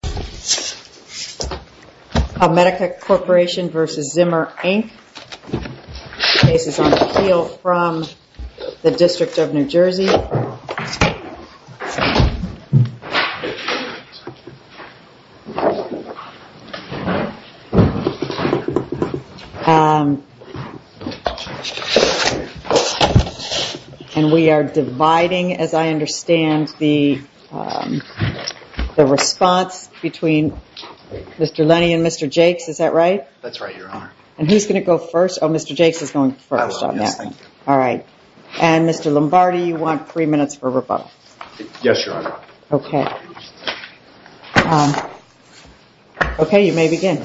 The case is on appeal from the District of New Jersey, and we are dividing, as I understand, the response between Mr. Lennie and Mr. Jakes, is that right? That's right, Your Honor. And who's going to go first? Oh, Mr. Jakes is going first on that one. Yes, thank you. All right. And Mr. Lombardi, you want three minutes for rebuttal. Yes, Your Honor. Okay. Okay, you may begin.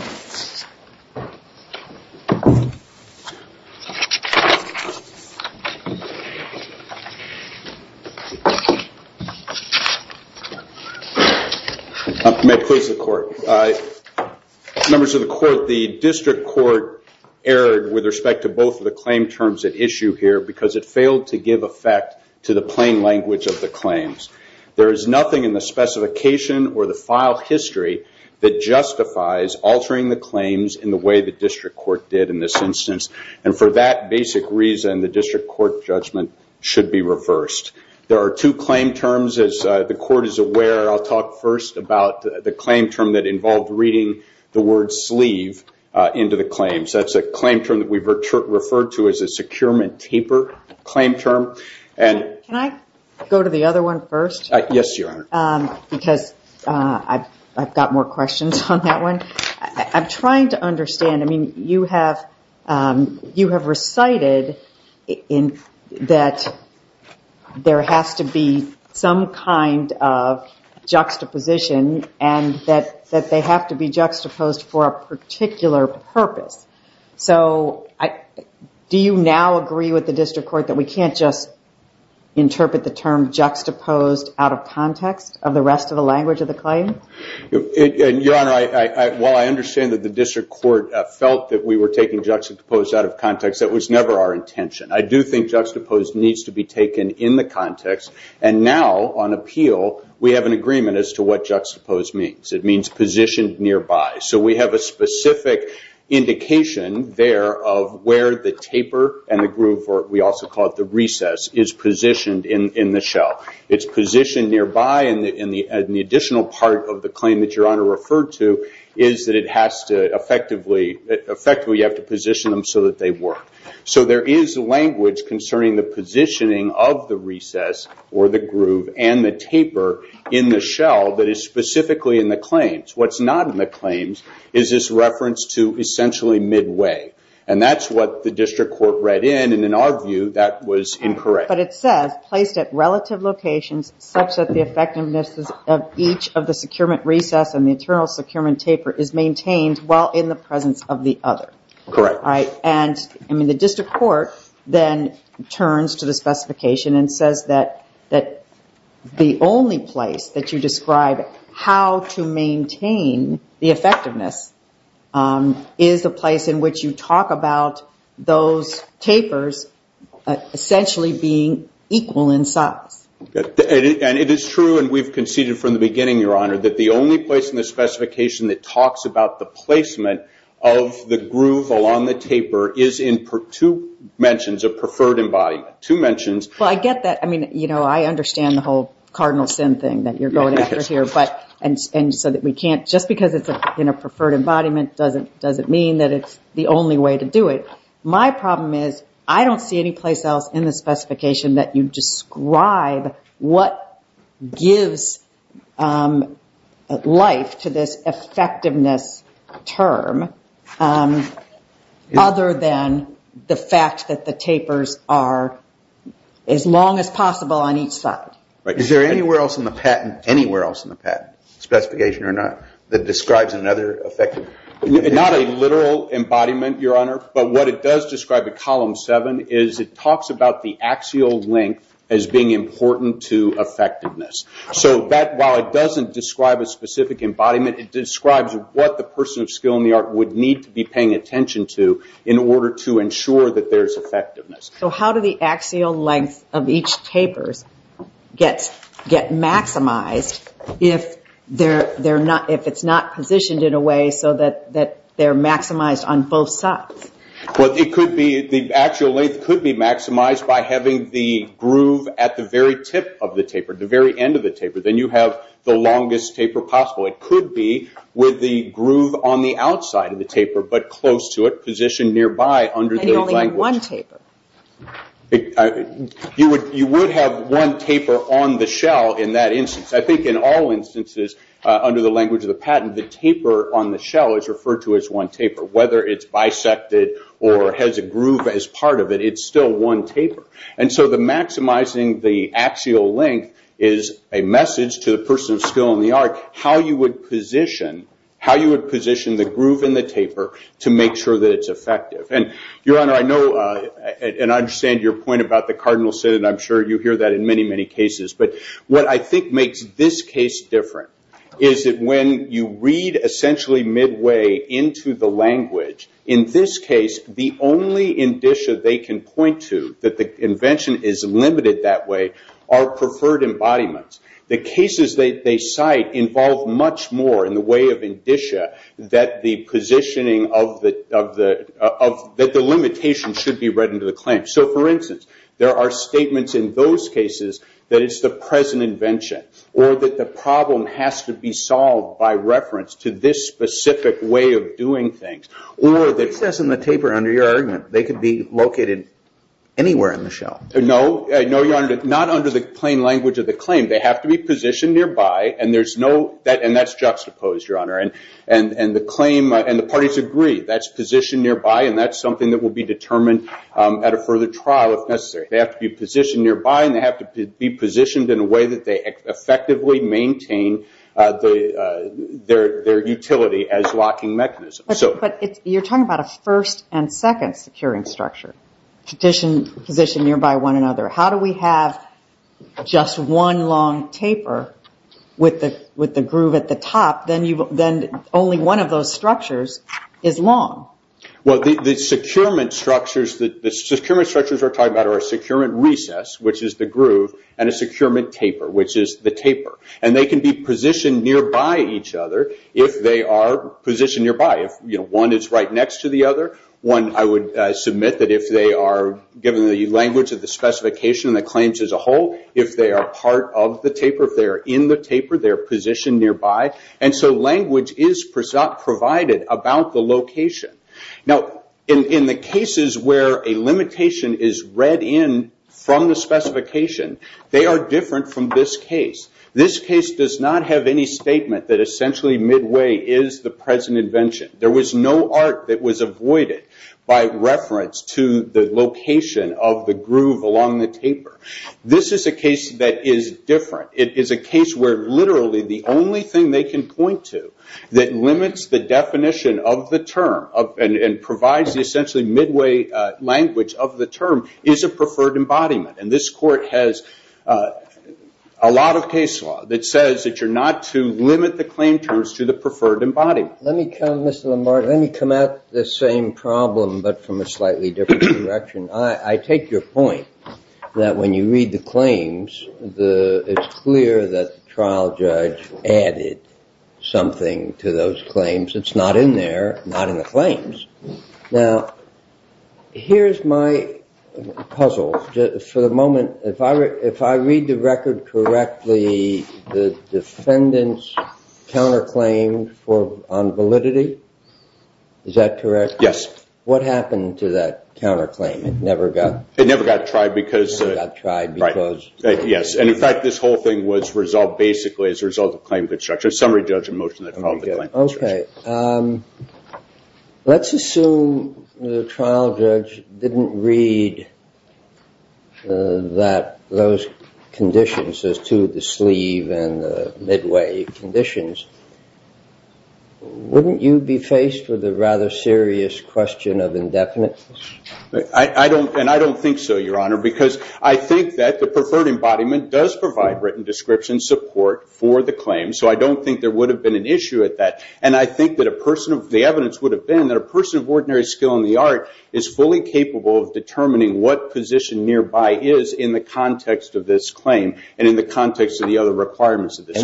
Members of the Court, the District Court erred with respect to both of the claim terms at issue here because it failed to give effect to the plain language of the claims. There is nothing in the specification or the file history that justifies altering the claims in the way the District Court did in this instance. And for that basic reason, the District Court judgment should be reversed. There are two claim terms, as the Court is aware. I'll talk first about the claim term that involved reading the word sleeve into the claims. That's a claim term that we've referred to as a securement taper claim term. Can I go to the other one first? Yes, Your Honor. Because I've got more questions on that one. I'm trying to understand, I mean, you have recited that there has to be some kind of juxtaposition and that they have to be juxtaposed for a particular purpose. So, do you now agree with the District Court that we can't just interpret the term juxtaposed out of context of the rest of the language of the claim? Your Honor, while I understand that the District Court felt that we were taking juxtaposed out of context, that was never our intention. I do think juxtaposed needs to be taken in the context. And now, on appeal, we have an agreement as to what juxtaposed means. It means positioned nearby. So we have a specific indication there of where the taper and the groove, or we also call it the recess, is positioned in the shell. It's positioned nearby and the additional part of the claim that Your Honor referred to is that it has to effectively, you have to position them so that they work. So there is language concerning the positioning of the recess or the groove and the taper in the shell that is specifically in the claims. What's not in the claims is this reference to essentially midway. And that's what the District Court read in, and in our view, that was incorrect. But it says, placed at relative locations such that the effectiveness of each of the securement recess and the internal securement taper is maintained while in the presence of the other. Correct. All right. And the District Court then turns to the specification and says that the only place that you describe how to maintain the effectiveness is the place in which you talk about those tapers essentially being equal in size. And it is true, and we've conceded from the beginning, Your Honor, that the only place in the specification that talks about the placement of the groove along the taper is in two mentions of preferred embodiment. Two mentions. Well, I get that. I mean, you know, I understand the whole cardinal sin thing that you're going after here, but and so that we can't, just because it's in a preferred embodiment doesn't mean that it's the only way to do it. My problem is, I don't see any place else in the specification that you describe what gives life to this effectiveness term other than the fact that the tapers are as long as possible on each side. Right. Is there anywhere else in the patent, anywhere else in the patent, specification or not, that describes another effective? Not a literal embodiment, Your Honor, but what it does describe at Column 7 is it talks about the axial length as being important to effectiveness. So that, while it doesn't describe a specific embodiment, it describes what the person of skill and the art would need to be paying attention to in order to ensure that there's effectiveness. So how do the axial length of each tapers get maximized if it's not positioned in a way so that they're maximized on both sides? Well, the axial length could be maximized by having the groove at the very tip of the taper, the very end of the taper. Then you have the longest taper possible. It could be with the groove on the outside of the taper, but close to it, positioned nearby under the language. And you only have one taper? You would have one taper on the shell in that instance. I think in all instances, under the language of the patent, the taper on the shell is referred to as one taper. Whether it's bisected or has a groove as part of it, it's still one taper. And so the maximizing the axial length is a message to the person of skill and the art how you would position the groove in the taper to make sure that it's effective. Your Honor, I know and I understand your point about the cardinal sin, and I'm sure you hear that in many, many cases. But what I think makes this case different is that when you read essentially midway into the language, in this case, the only indicia they can point to that the invention is limited that way are preferred embodiments. The cases that they cite involve much more in the way of indicia that the positioning of the... that the limitation should be read into the claim. So for instance, there are statements in those cases that it's the present invention or that the problem has to be solved by reference to this specific way of doing things. Or that... It says in the taper under your argument, they could be located anywhere in the shell. No, Your Honor. Not under the plain language of the claim. They have to be positioned nearby and there's no... and that's juxtaposed, Your Honor. And the claim and the parties agree, that's positioned nearby and that's something that further trial if necessary. They have to be positioned nearby and they have to be positioned in a way that they effectively maintain their utility as locking mechanisms. But you're talking about a first and second securing structure. Positioned nearby one another. How do we have just one long taper with the groove at the top, then only one of those structures is long? Well, the securement structures that... the securement structures we're talking about are a securement recess, which is the groove, and a securement taper, which is the taper. And they can be positioned nearby each other if they are positioned nearby. If one is right next to the other, one... I would submit that if they are, given the language of the specification and the claims as a whole, if they are part of the taper, if they are in the taper, they are positioned nearby. So language is provided about the location. In the cases where a limitation is read in from the specification, they are different from this case. This case does not have any statement that essentially midway is the present invention. There was no art that was avoided by reference to the location of the groove along the taper. This is a case that is different. It is a case where literally the only thing they can point to that limits the definition of the term and provides the essentially midway language of the term is a preferred embodiment. And this court has a lot of case law that says that you're not to limit the claim terms to the preferred embodiment. Let me come... Mr. Lamar, let me come at this same problem, but from a slightly different direction. I take your point that when you read the claims, it's clear that the trial judge added something to those claims. It's not in there, not in the claims. Now, here's my puzzle. For the moment, if I read the record correctly, the defendants counterclaimed on validity. Is that correct? Yes. What happened to that counterclaim? It never got... It never got tried because... It never got tried because... Right. Yes. And in fact, this whole thing was resolved basically as a result of claim constructure. Summary judge in motion that followed the claim construction. Okay. Let's assume the trial judge didn't read those conditions as to the sleeve and the midway conditions. Wouldn't you be faced with a rather serious question of indefinite? I don't, and I don't think so, your honor, because I think that the preferred embodiment does provide written description support for the claim, so I don't think there would have been an issue at that. And I think that a person of... The evidence would have been that a person of ordinary skill in the art is fully capable of determining what position nearby is in the context of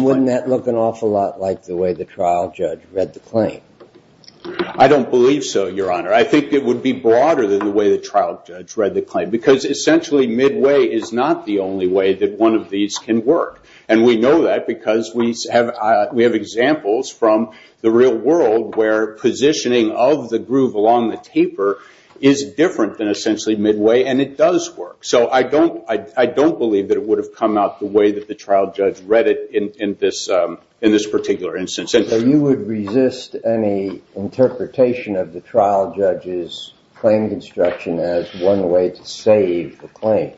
Wouldn't that look an awful lot like the way the trial judge read the claim? I don't believe so, your honor. I think it would be broader than the way the trial judge read the claim, because essentially midway is not the only way that one of these can work, and we know that because we have examples from the real world where positioning of the groove along the taper is different than essentially midway, and it does work, so I don't believe that it would have come out the way that the trial judge read it in this particular instance. So you would resist any interpretation of the trial judge's claim construction as one way to save the claims?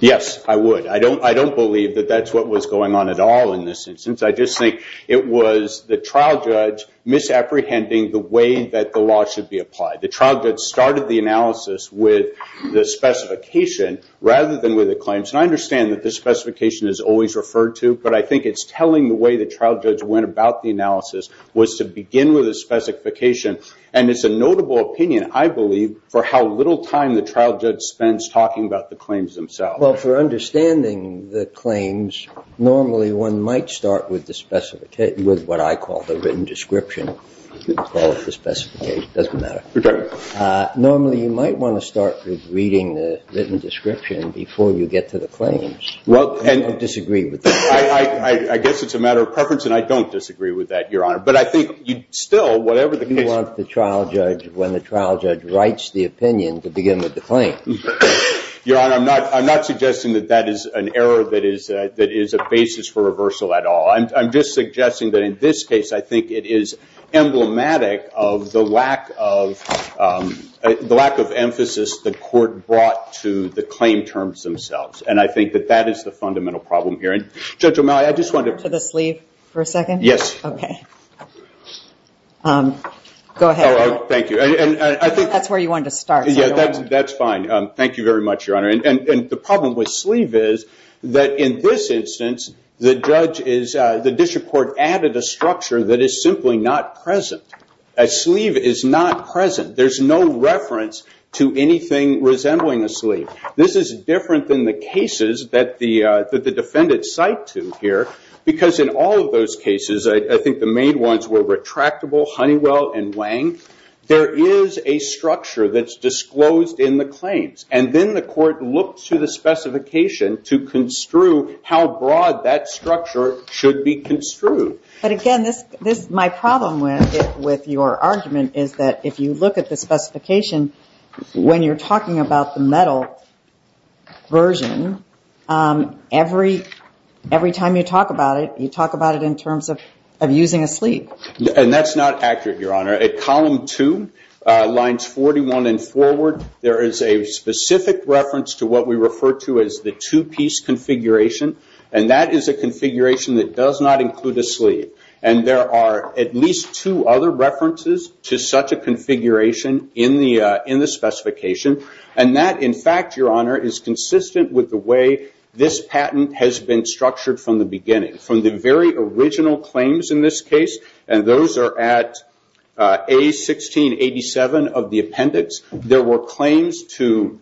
Yes, I would. I don't believe that that's what was going on at all in this instance. I just think it was the trial judge misapprehending the way that the law should be applied. The trial judge started the analysis with the specification rather than with the claims, and I understand that the specification is always referred to, but I think it's telling the way the trial judge went about the analysis was to begin with the specification, and it's a notable opinion, I believe, for how little time the trial judge spends talking about the claims themselves. Well, for understanding the claims, normally one might start with the specification, with what I call the written description, you could call it the specification, it doesn't matter. Normally, you might want to start with reading the written description before you get to the claims. I don't disagree with that. I guess it's a matter of preference, and I don't disagree with that, Your Honor. But I think, still, whatever the case is- You want the trial judge, when the trial judge writes the opinion, to begin with the claim. Your Honor, I'm not suggesting that that is an error that is a basis for reversal at all. I'm just suggesting that in this case, I think it is emblematic of the lack of emphasis the court brought to the claim terms themselves, and I think that that is the fundamental problem here. Judge O'Malley, I just wanted to- To the sleeve for a second? Yes. Okay. Go ahead. Oh, thank you. I think- That's where you wanted to start, so I don't want to- That's fine. Thank you very much, Your Honor. The problem with sleeve is that, in this instance, the district court added a structure that is simply not present. A sleeve is not present. There's no reference to anything resembling a sleeve. This is different than the cases that the defendants cite to here, because in all of those cases, I think the main ones were retractable, Honeywell, and Wang. There is a structure that's disclosed in the claims, and then the court looked to the specification to construe how broad that structure should be construed. But again, my problem with your argument is that, if you look at the specification, when you're talking about the metal version, every time you talk about it, you talk about it in terms of using a sleeve. That's not accurate, Your Honor. At column two, lines 41 and forward, there is a specific reference to what we refer to as the two-piece configuration, and that is a configuration that does not include a sleeve. There are at least two other references to such a configuration in the specification, and that, in fact, Your Honor, is consistent with the way this patent has been structured from the beginning. From the very original claims in this case, and those are at A1687 of the appendix, there were claims to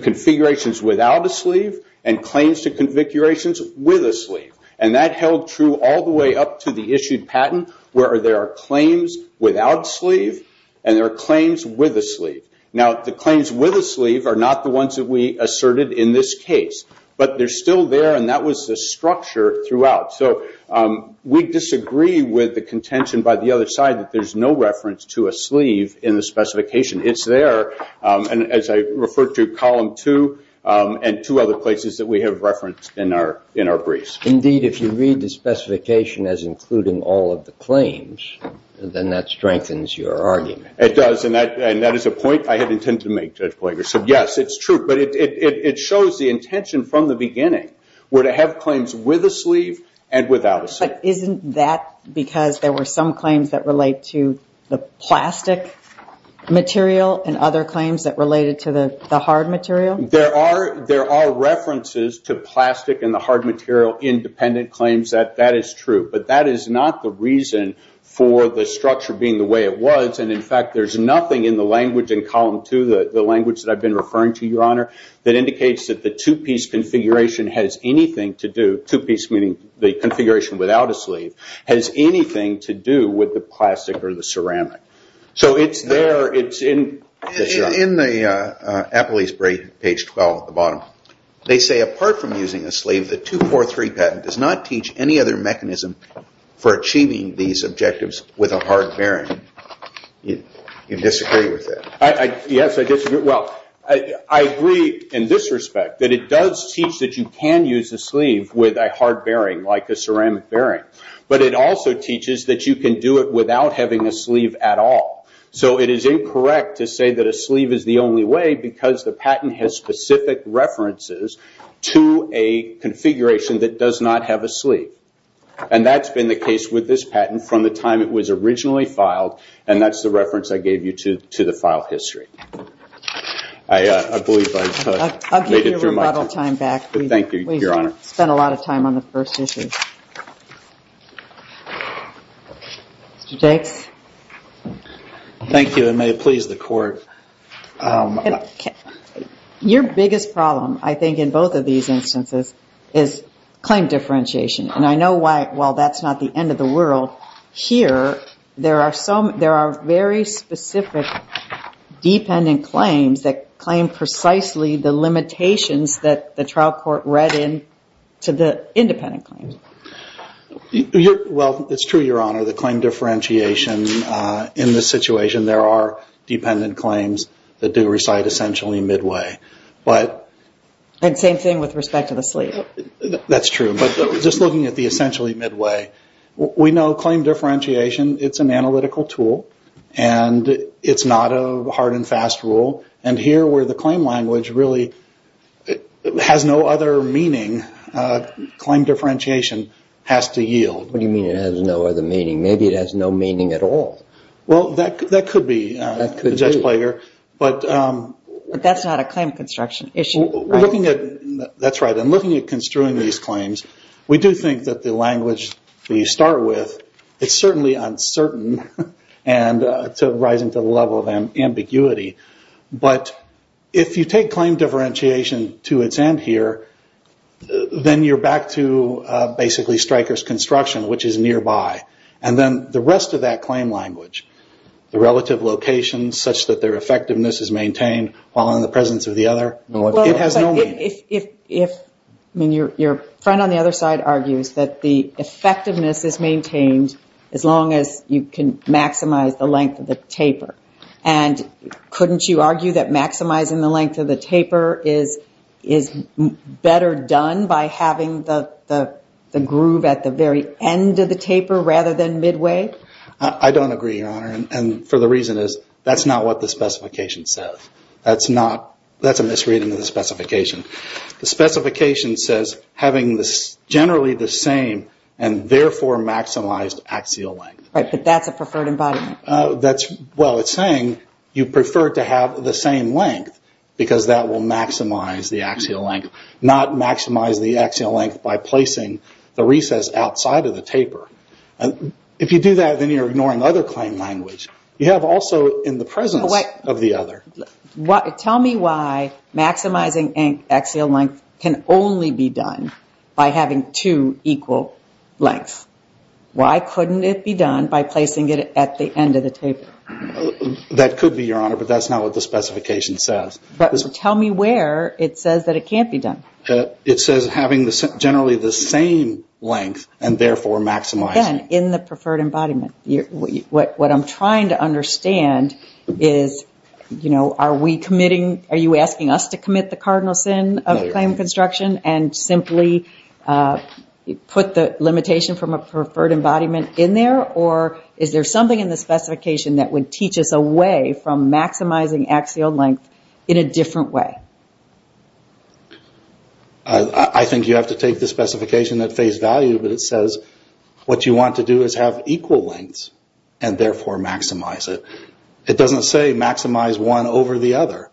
configurations without a sleeve, and claims to configurations with a sleeve. That held true all the way up to the issued patent, where there are claims without a sleeve, and there are claims with a sleeve. The claims with a sleeve are not the ones that we asserted in this case, but they're the structure throughout. We disagree with the contention by the other side that there's no reference to a sleeve in the specification. It's there, and as I referred to, column two, and two other places that we have referenced in our briefs. Indeed, if you read the specification as including all of the claims, then that strengthens your argument. It does, and that is a point I had intended to make, Judge Plager, so yes, it's true, but it shows the intention from the beginning, where to have claims with a sleeve and without a sleeve. But isn't that because there were some claims that relate to the plastic material, and other claims that related to the hard material? There are references to plastic and the hard material in dependent claims, that is true, but that is not the reason for the structure being the way it was, and in fact, there's referring to, Your Honor, that indicates that the two-piece configuration has anything to do, two-piece meaning the configuration without a sleeve, has anything to do with the plastic or the ceramic. So it's there. It's in. Yes, Your Honor. In the Apolyse break, page 12 at the bottom, they say, apart from using a sleeve, the 243 patent does not teach any other mechanism for achieving these objectives with a hard bearing. You disagree with that? Yes, I disagree. Well, I agree in this respect, that it does teach that you can use a sleeve with a hard bearing, like a ceramic bearing, but it also teaches that you can do it without having a sleeve at all. So it is incorrect to say that a sleeve is the only way, because the patent has specific references to a configuration that does not have a sleeve. That's been the case with this patent from the time it was originally filed, and that's the reference I gave you to the file history. I believe I've made it through my time. I'll give you a rebuttal time back. Thank you, Your Honor. We've spent a lot of time on the first issue. Mr. Jakes? Thank you, and may it please the Court. Your biggest problem, I think, in both of these instances is claim differentiation. And I know why, while that's not the end of the world, here, there are very specific dependent claims that claim precisely the limitations that the trial court read into the independent claims. Well, it's true, Your Honor, the claim differentiation in this situation, there are dependent claims that do reside essentially midway. And same thing with respect to the sleeve. That's true, but just looking at the essentially midway. We know claim differentiation, it's an analytical tool, and it's not a hard and fast rule. And here, where the claim language really has no other meaning, claim differentiation has to yield. What do you mean it has no other meaning? Maybe it has no meaning at all. Well, that could be, Judge Plager. But that's not a claim construction issue, right? That's right, and looking at construing these claims, we do think that the language that you start with, it's certainly uncertain, and it's rising to the level of ambiguity. But if you take claim differentiation to its end here, then you're back to basically striker's construction, which is nearby. And then the rest of that claim language, the relative location such that their effectiveness is maintained while in the presence of the other, it has no meaning. If your friend on the other side argues that the effectiveness is maintained as long as you can maximize the length of the taper, and couldn't you argue that maximizing the length of the taper is better done by having the groove at the very end of the taper rather than midway? I don't agree, Your Honor, and for the reason is that's not what the specification says. That's not, that's a misreading of the specification. The specification says having this generally the same and therefore maximized axial length. Right, but that's a preferred embodiment. That's, well, it's saying you prefer to have the same length because that will maximize the axial length, not maximize the axial length by placing the recess outside of the taper. If you do that, then you're ignoring other claim language. You have also in the presence of the other. Tell me why maximizing axial length can only be done by having two equal lengths. Why couldn't it be done by placing it at the end of the taper? That could be, Your Honor, but that's not what the specification says. Tell me where it says that it can't be done. It says having generally the same length and therefore maximizing. Again, in the preferred embodiment. What I'm trying to understand is, you know, are we committing, are you asking us to commit the cardinal sin of claim construction and simply put the limitation from a preferred embodiment in there, or is there something in the specification that would teach us a way from maximizing axial length in a different way? I think you have to take the specification at face value, but it says what you want to do is have equal lengths and therefore maximize it. It doesn't say maximize one over the other.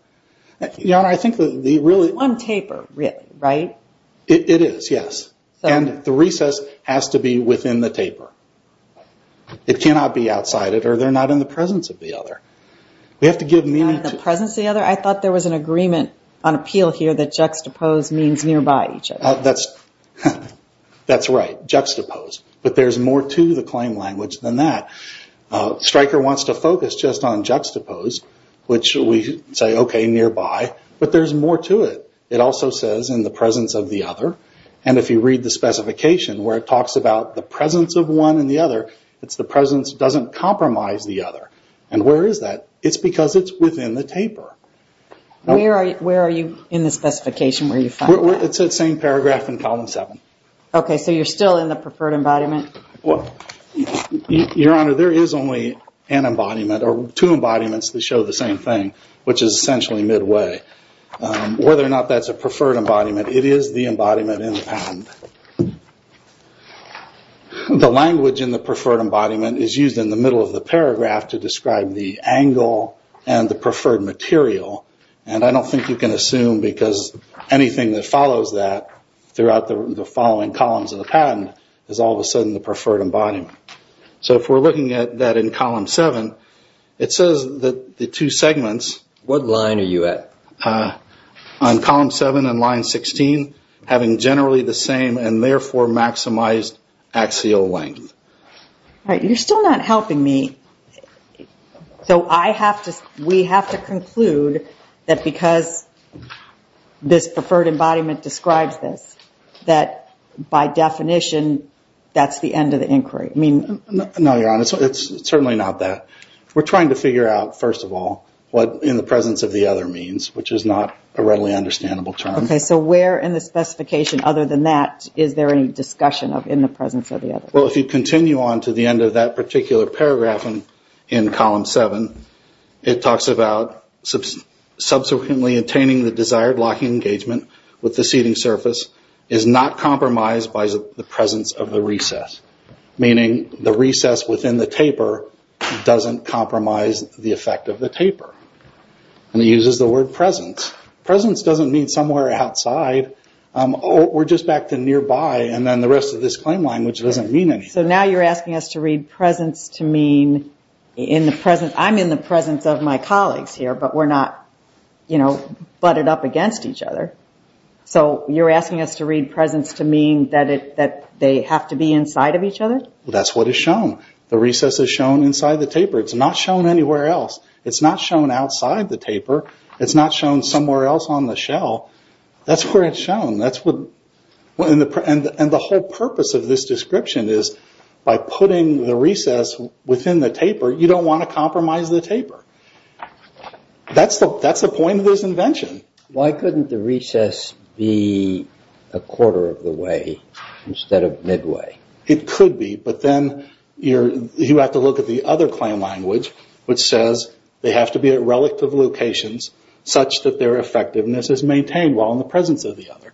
Your Honor, I think the really... One taper, really, right? It is, yes. And the recess has to be within the taper. It cannot be outside it or they're not in the presence of the other. We have to give meaning to... Not in the presence of the other? I thought there was an agreement on appeal here that juxtapose means nearby each other. That's right, juxtapose. But there's more to the claim language than that. Stryker wants to focus just on juxtapose, which we say, okay, nearby, but there's more to it. It also says in the presence of the other, and if you read the specification where it says one and the other, it's the presence doesn't compromise the other. And where is that? It's because it's within the taper. Where are you in the specification where you find that? It's that same paragraph in column seven. Okay, so you're still in the preferred embodiment? Your Honor, there is only an embodiment or two embodiments that show the same thing, which is essentially midway. Whether or not that's a preferred embodiment, it is the embodiment in the patent. The language in the preferred embodiment is used in the middle of the paragraph to describe the angle and the preferred material. And I don't think you can assume because anything that follows that throughout the following columns of the patent is all of a sudden the preferred embodiment. So if we're looking at that in column seven, it says that the two segments... What line are you at? I'm at column seven and line 16, having generally the same and therefore maximized axial length. All right, you're still not helping me. So we have to conclude that because this preferred embodiment describes this, that by definition that's the end of the inquiry. I mean... No, Your Honor, it's certainly not that. We're trying to figure out, first of all, what in the presence of the other means, which is not a readily understandable term. Okay, so where in the specification other than that is there any discussion of in the presence of the other? Well, if you continue on to the end of that particular paragraph in column seven, it talks about subsequently attaining the desired locking engagement with the seating surface is not the effect of the taper, and it uses the word presence. Presence doesn't mean somewhere outside. We're just back to nearby and then the rest of this claim line, which doesn't mean anything. So now you're asking us to read presence to mean in the presence... I'm in the presence of my colleagues here, but we're not butted up against each other. So you're asking us to read presence to mean that they have to be inside of each other? That's what is shown. The recess is shown inside the taper. It's not shown anywhere else. It's not shown outside the taper. It's not shown somewhere else on the shell. That's where it's shown. And the whole purpose of this description is by putting the recess within the taper, you don't want to compromise the taper. That's the point of this invention. Why couldn't the recess be a quarter of the way instead of midway? It could be, but then you have to look at the other claim language, which says they have to be at relative locations such that their effectiveness is maintained while in the presence of the other.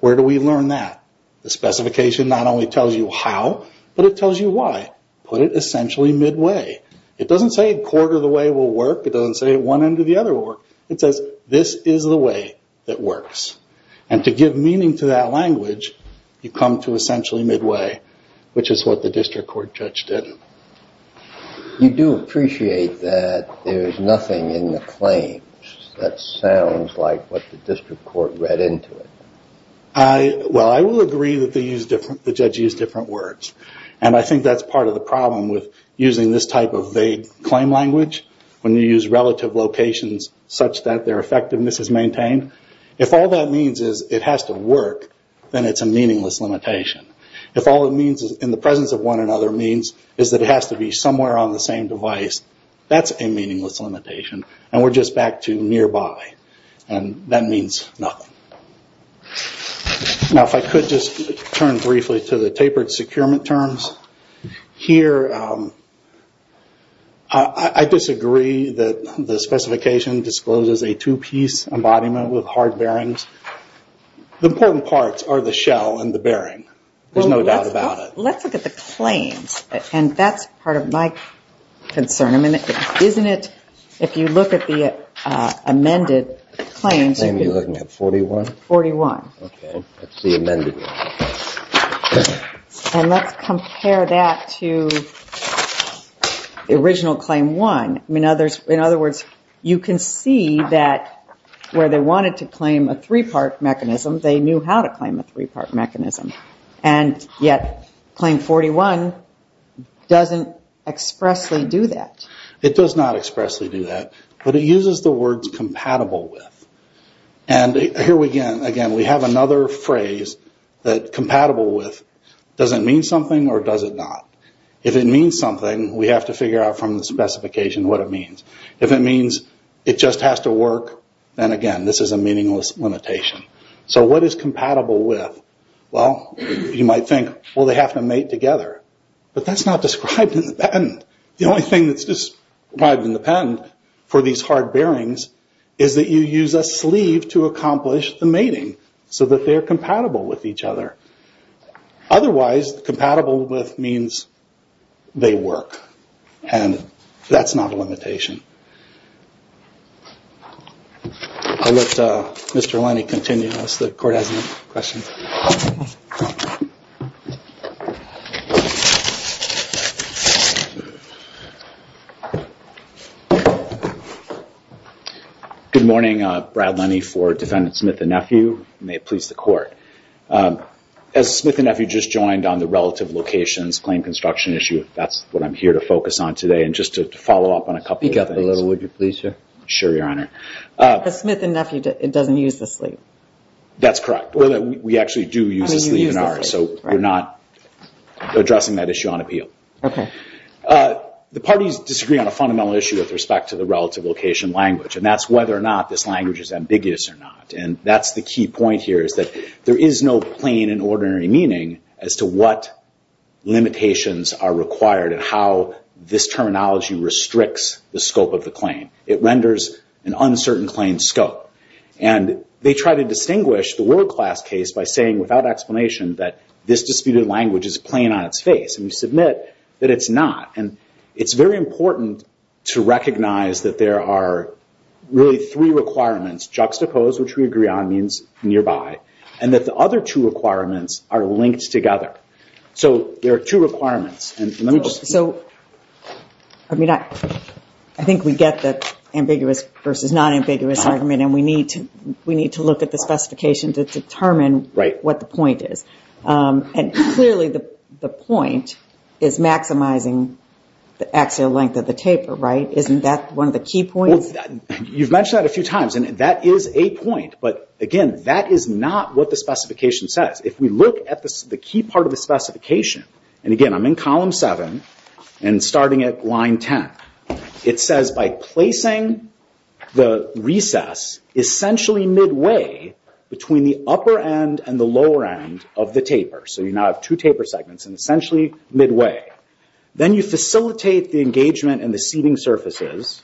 Where do we learn that? The specification not only tells you how, but it tells you why. Put it essentially midway. It doesn't say a quarter of the way will work. It doesn't say one end of the other will work. It says this is the way that works. And to give meaning to that language, you come to essentially midway, which is what the district court judge did. You do appreciate that there's nothing in the claims that sounds like what the district court read into it. Well, I will agree that the judge used different words. And I think that's part of the problem with using this type of vague claim language when you use relative locations such that their effectiveness is maintained. If all that means is it has to work, then it's a meaningless limitation. If all it means is in the presence of one another means is that it has to be somewhere on the same device, that's a meaningless limitation, and we're just back to nearby, and that means nothing. Now, if I could just turn briefly to the tapered securement terms, here I disagree that the hard bearings, the important parts are the shell and the bearing. There's no doubt about it. Well, let's look at the claims, and that's part of my concern. If you look at the amended claims, 41, that's the amended one. And let's compare that to the original claim one. In other words, you can see that where they wanted to claim a three-part mechanism, they knew how to claim a three-part mechanism. And yet, claim 41 doesn't expressly do that. It does not expressly do that, but it uses the words compatible with. And here again, we have another phrase that compatible with doesn't mean something or does it not. If it means something, we have to figure out from the specification what it means. If it means it just has to work, then again, this is a meaningless limitation. So what is compatible with? Well, you might think, well, they have to mate together, but that's not described in the patent. The only thing that's described in the patent for these hard bearings is that you use a sleeve to accomplish the mating so that they're compatible with each other. Otherwise, compatible with means they work, and that's not a limitation. I'll let Mr. Lenny continue unless the court has any questions. Good morning. Brad Lenny for Defendant Smith and Nephew. May it please the court. As Smith and Nephew just joined on the relative locations claim construction issue, that's what I'm here to focus on today and just to follow up on a couple of things. Speak up a little, would you please, sir? Sure, Your Honor. The Smith and Nephew, it doesn't use the sleeve. That's correct. We actually do use the sleeve in ours, so we're not addressing that issue on appeal. The parties disagree on a fundamental issue with respect to the relative location language, and that's whether or not this language is ambiguous or not. That's the key point here is that there is no plain and ordinary meaning as to what limitations are required and how this terminology restricts the scope of the claim. It renders an uncertain claim scope. They try to distinguish the world class case by saying without explanation that this disputed language is plain on its face, and we submit that it's not. It's very important to recognize that there are really three requirements juxtaposed, which we agree on means nearby, and that the other two requirements are linked together. There are two requirements. I think we get the ambiguous versus non-ambiguous argument, and we need to look at the specification to determine what the point is. Clearly, the point is maximizing the axial length of the taper, right? Isn't that one of the key points? You've mentioned that a few times, and that is a point, but again, that is not what the specification says. If we look at the key part of the specification, and again, I'm in column seven and starting at line 10. It says by placing the recess essentially midway between the upper end and the lower end of the taper, so you now have two taper segments and essentially midway. Then you facilitate the engagement in the seating surfaces,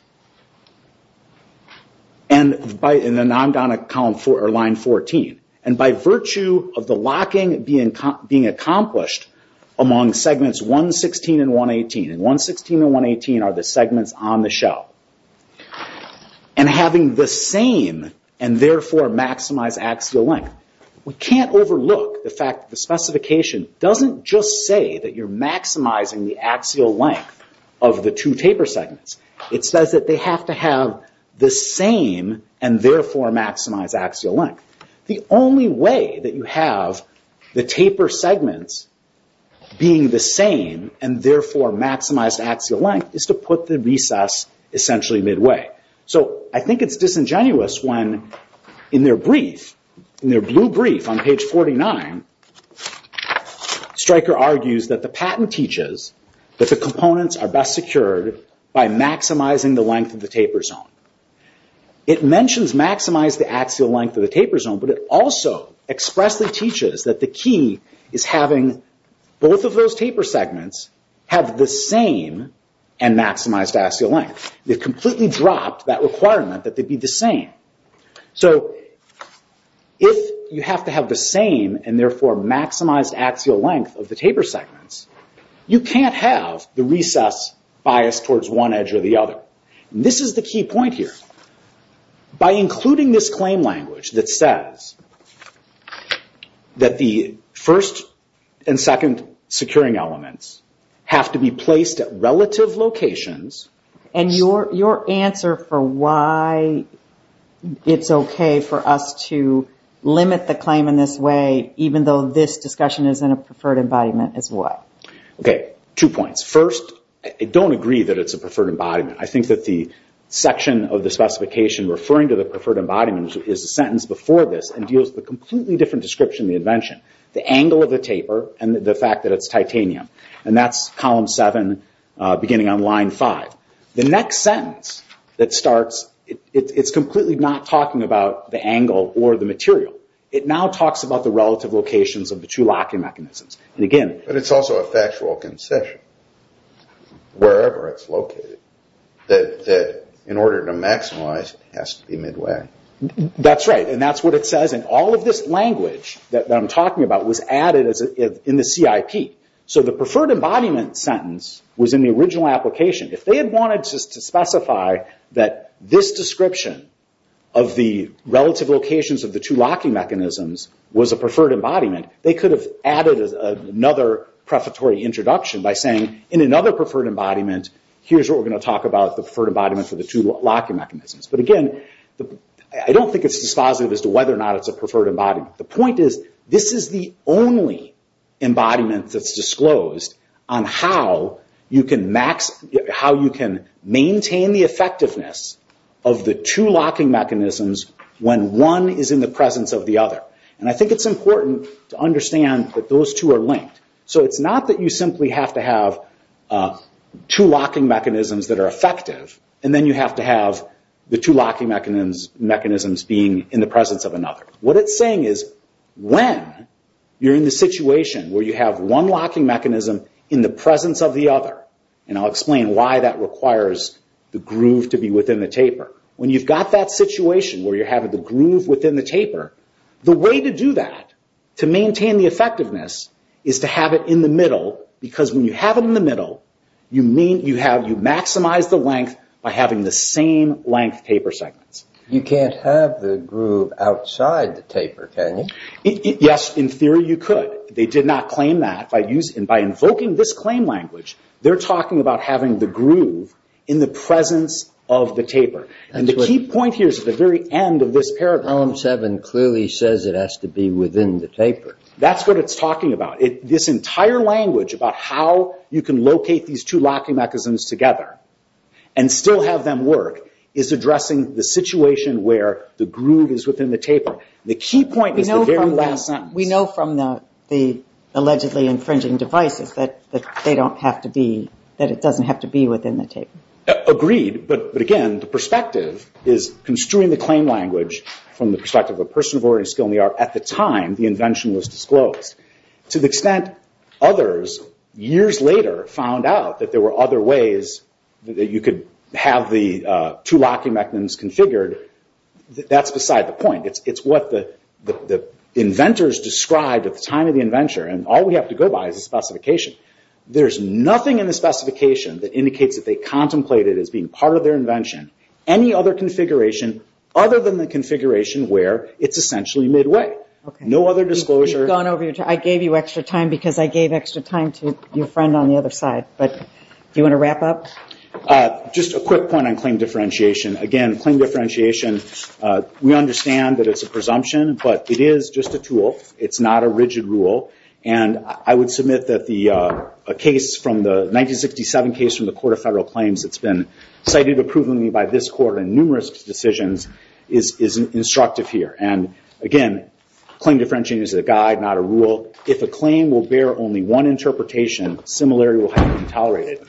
and I'm down at line 14. By virtue of the locking being accomplished among segments 116 and 118, and 116 and 118 are the segments on the shell, and having the same and therefore maximized axial length. We can't overlook the fact that the specification doesn't just say that you're maximizing the axial length of the two taper segments. It says that they have to have the same and therefore maximized axial length. The only way that you have the taper segments being the same and therefore maximized axial length is to put the recess essentially midway. I think it's disingenuous when in their brief, in their blue brief on page 49, Stryker argues that the patent teaches that the components are best secured by maximizing the length of the taper zone. It mentions maximize the axial length of the taper zone, but it also expressly teaches that the key is having both of those taper segments have the same and maximized axial length. They've completely dropped that requirement that they be the same. So if you have to have the same and therefore maximized axial length of the taper segments, you can't have the recess biased towards one edge or the other. This is the key point here. By including this claim language that says that the first and second securing elements have to be placed at relative locations. And your answer for why it's okay for us to limit the claim in this way, even though this discussion is in a preferred embodiment, is what? Two points. First, I don't agree that it's a preferred embodiment. I think that the section of the specification referring to the preferred embodiment is a sentence before this and deals with a completely different description of the invention. The angle of the taper and the fact that it's titanium. And that's column seven, beginning on line five. The next sentence that starts, it's completely not talking about the angle or the material. It now talks about the relative locations of the two locking mechanisms. And again... But it's also a factual concession, wherever it's located, that in order to maximize it has to be midway. That's right. And that's what it says. And all of this language that I'm talking about was added in the CIP. So the preferred embodiment sentence was in the original application. If they had wanted to specify that this description of the relative locations of the two locking mechanisms was a preferred embodiment, they could have added another prefatory introduction by saying, in another preferred embodiment, here's what we're going to talk about the preferred embodiment for the two locking mechanisms. But again, I don't think it's dispositive as to whether or not it's a preferred embodiment. The point is, this is the only embodiment that's disclosed on how you can maintain the effectiveness of the two locking mechanisms when one is in the presence of the other. And I think it's important to understand that those two are linked. So it's not that you simply have to have two locking mechanisms that are effective, and then you have to have the two locking mechanisms being in the presence of another. What it's saying is, when you're in the situation where you have one locking mechanism in the presence of the other, and I'll explain why that requires the groove to be within the taper. When you've got that situation where you're having the groove within the taper, the way to do that, to maintain the effectiveness, is to have it in the middle. Because when you have it in the middle, you maximize the length by having the same length taper segments. You can't have the groove outside the taper, can you? Yes, in theory you could. They did not claim that. By invoking this claim language, they're talking about having the groove in the presence of the taper. And the key point here is at the very end of this paragraph. Column 7 clearly says it has to be within the taper. That's what it's talking about. This entire language about how you can locate these two locking mechanisms together and still have them work is addressing the situation where the groove is within the taper. The key point is the very last sentence. We know from the allegedly infringing devices that they don't have to be, that it doesn't have to be within the taper. Agreed. But again, the perspective is construing the claim language from the perspective of a person of origin, skill, and the art at the time the invention was disclosed. To the extent others, years later, found out that there were other ways that you could have the two locking mechanisms configured, that's beside the point. It's what the inventors described at the time of the invention. All we have to go by is the specification. There's nothing in the specification that indicates that they contemplated it as being part of their invention. Any other configuration other than the configuration where it's essentially midway. No other disclosure. We've gone over your time. I gave you extra time because I gave extra time to your friend on the other side. Do you want to wrap up? Just a quick point on claim differentiation. Again, claim differentiation, we understand that it's a presumption, but it is just a tool. It's not a rigid rule. I would submit that the 1967 case from the Court of Federal Claims that's been cited approvingly by this court in numerous decisions is instructive here. Again, claim differentiation is a guide, not a rule. If a claim will bear only one interpretation, similarity will have been tolerated.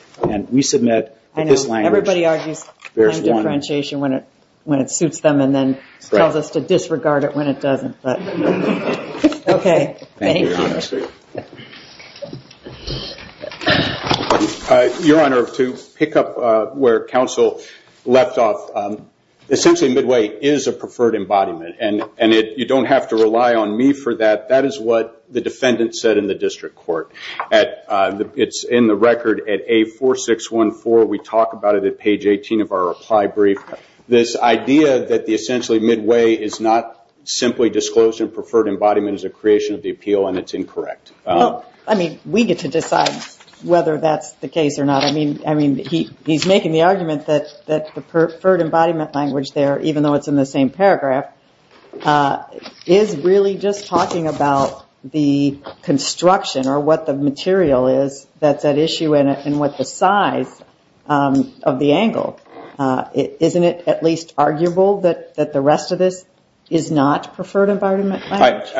We submit that this language bears one. I know. Everybody argues claim differentiation when it suits them and then tells us to disregard it when it doesn't, but okay, thank you. Your Honor, to pick up where counsel left off, essentially midway is a preferred embodiment. You don't have to rely on me for that. That is what the defendant said in the district court. It's in the record at A4614. We talk about it at page 18 of our reply brief. This idea that essentially midway is not simply disclosure and preferred embodiment is a creation of the appeal and it's incorrect. We get to decide whether that's the case or not. He's making the argument that the preferred embodiment language there, even though it's in the same paragraph, is really just talking about the construction or what the material is that's at issue and what the size of the angle. Isn't it at least arguable that the rest of this is not preferred embodiment language?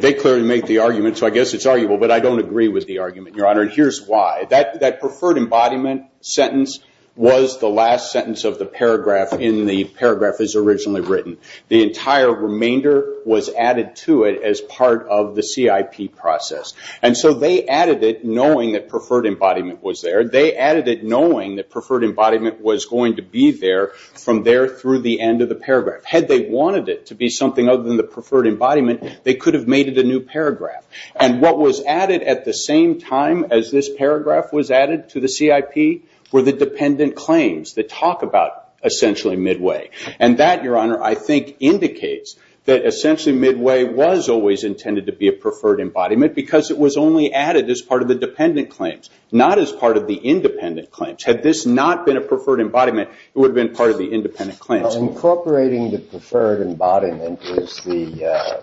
They clearly make the argument, so I guess it's arguable, but I don't agree with the argument, Your Honor. Here's why. That preferred embodiment sentence was the last sentence of the paragraph in the paragraph that's originally written. The entire remainder was added to it as part of the CIP process. They added it knowing that preferred embodiment was there. They added it knowing that preferred embodiment was going to be there from there through the end of the paragraph. Had they wanted it to be something other than the preferred embodiment, they could have made it a new paragraph. What was added at the same time as this paragraph was added to the CIP were the dependent claims that talk about, essentially, Midway. That, Your Honor, I think indicates that, essentially, Midway was always intended to be a preferred embodiment because it was only added as part of the dependent claims, not as part of the independent claims. Had this not been a preferred embodiment, it would have been part of the independent claims. Incorporating the preferred embodiment is the,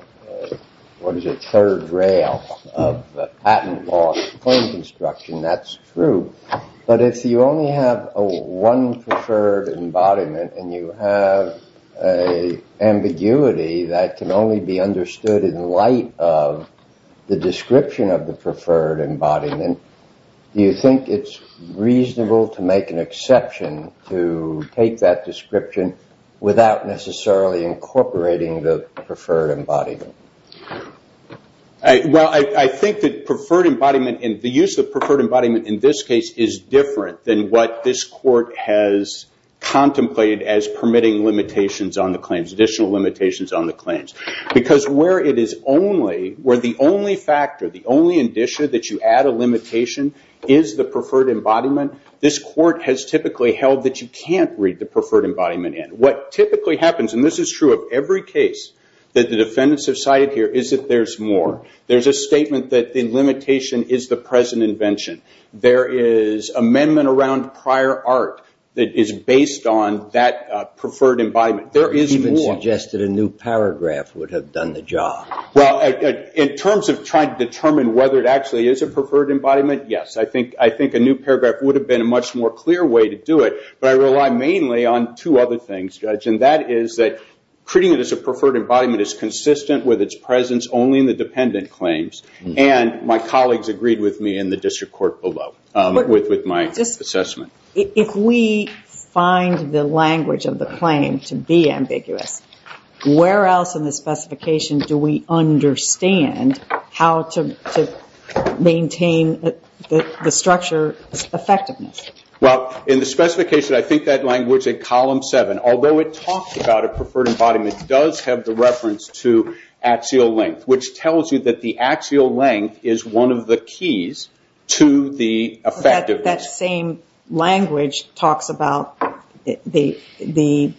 what is it, third rail of patent law claim construction, that's true. But if you only have one preferred embodiment and you have an ambiguity that can only be understood in light of the description of the preferred embodiment, do you think it's reasonable to make an exception to take that description without necessarily incorporating the preferred embodiment? Well, I think that preferred embodiment, and the use of preferred embodiment in this case is different than what this court has contemplated as permitting limitations on the claims, additional limitations on the claims. Because where it is only, where the only factor, the only indicia that you add a limitation is the preferred embodiment, this court has typically held that you can't read the preferred embodiment in. What typically happens, and this is true of every case that the defendants have cited here, is that there's more. There's a statement that the limitation is the present invention. There is amendment around prior art that is based on that preferred embodiment. There is more. You even suggested a new paragraph would have done the job. Well, in terms of trying to determine whether it actually is a preferred embodiment, yes. I think a new paragraph would have been a much more clear way to do it, but I rely mainly on two other things, Judge, and that is that treating it as a preferred embodiment is consistent with its presence only in the dependent claims, and my colleagues agreed with me in the district court below with my assessment. If we find the language of the claim to be ambiguous, where else in the specification do we understand how to maintain the structure's effectiveness? Well, in the specification, I think that language in column seven, although it talks about a preferred embodiment, it does have the reference to axial length, which tells you that the axial length is one of the keys to the effectiveness. That same language talks about the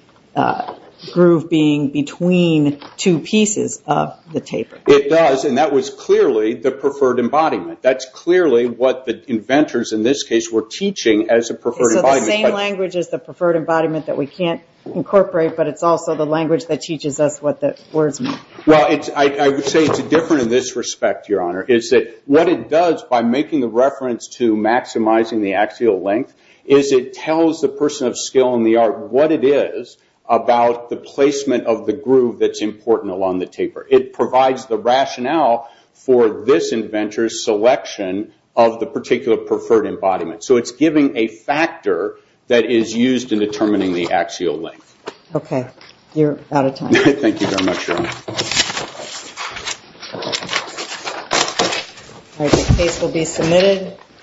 groove being between two pieces of the taper. It does, and that was clearly the preferred embodiment. That's clearly what the inventors, in this case, were teaching as a preferred embodiment. So the same language is the preferred embodiment that we can't incorporate, but it's also the language that teaches us what the words mean. Well, I would say it's different in this respect, Your Honor, is that what it does by making the reference to maximizing the axial length is it tells the person of skill and the art what it is about the placement of the groove that's important along the taper. It provides the rationale for this inventor's selection of the particular preferred embodiment. So it's giving a factor that is used in determining the axial length. Okay. Thank you very much, Your Honor. The case will be submitted.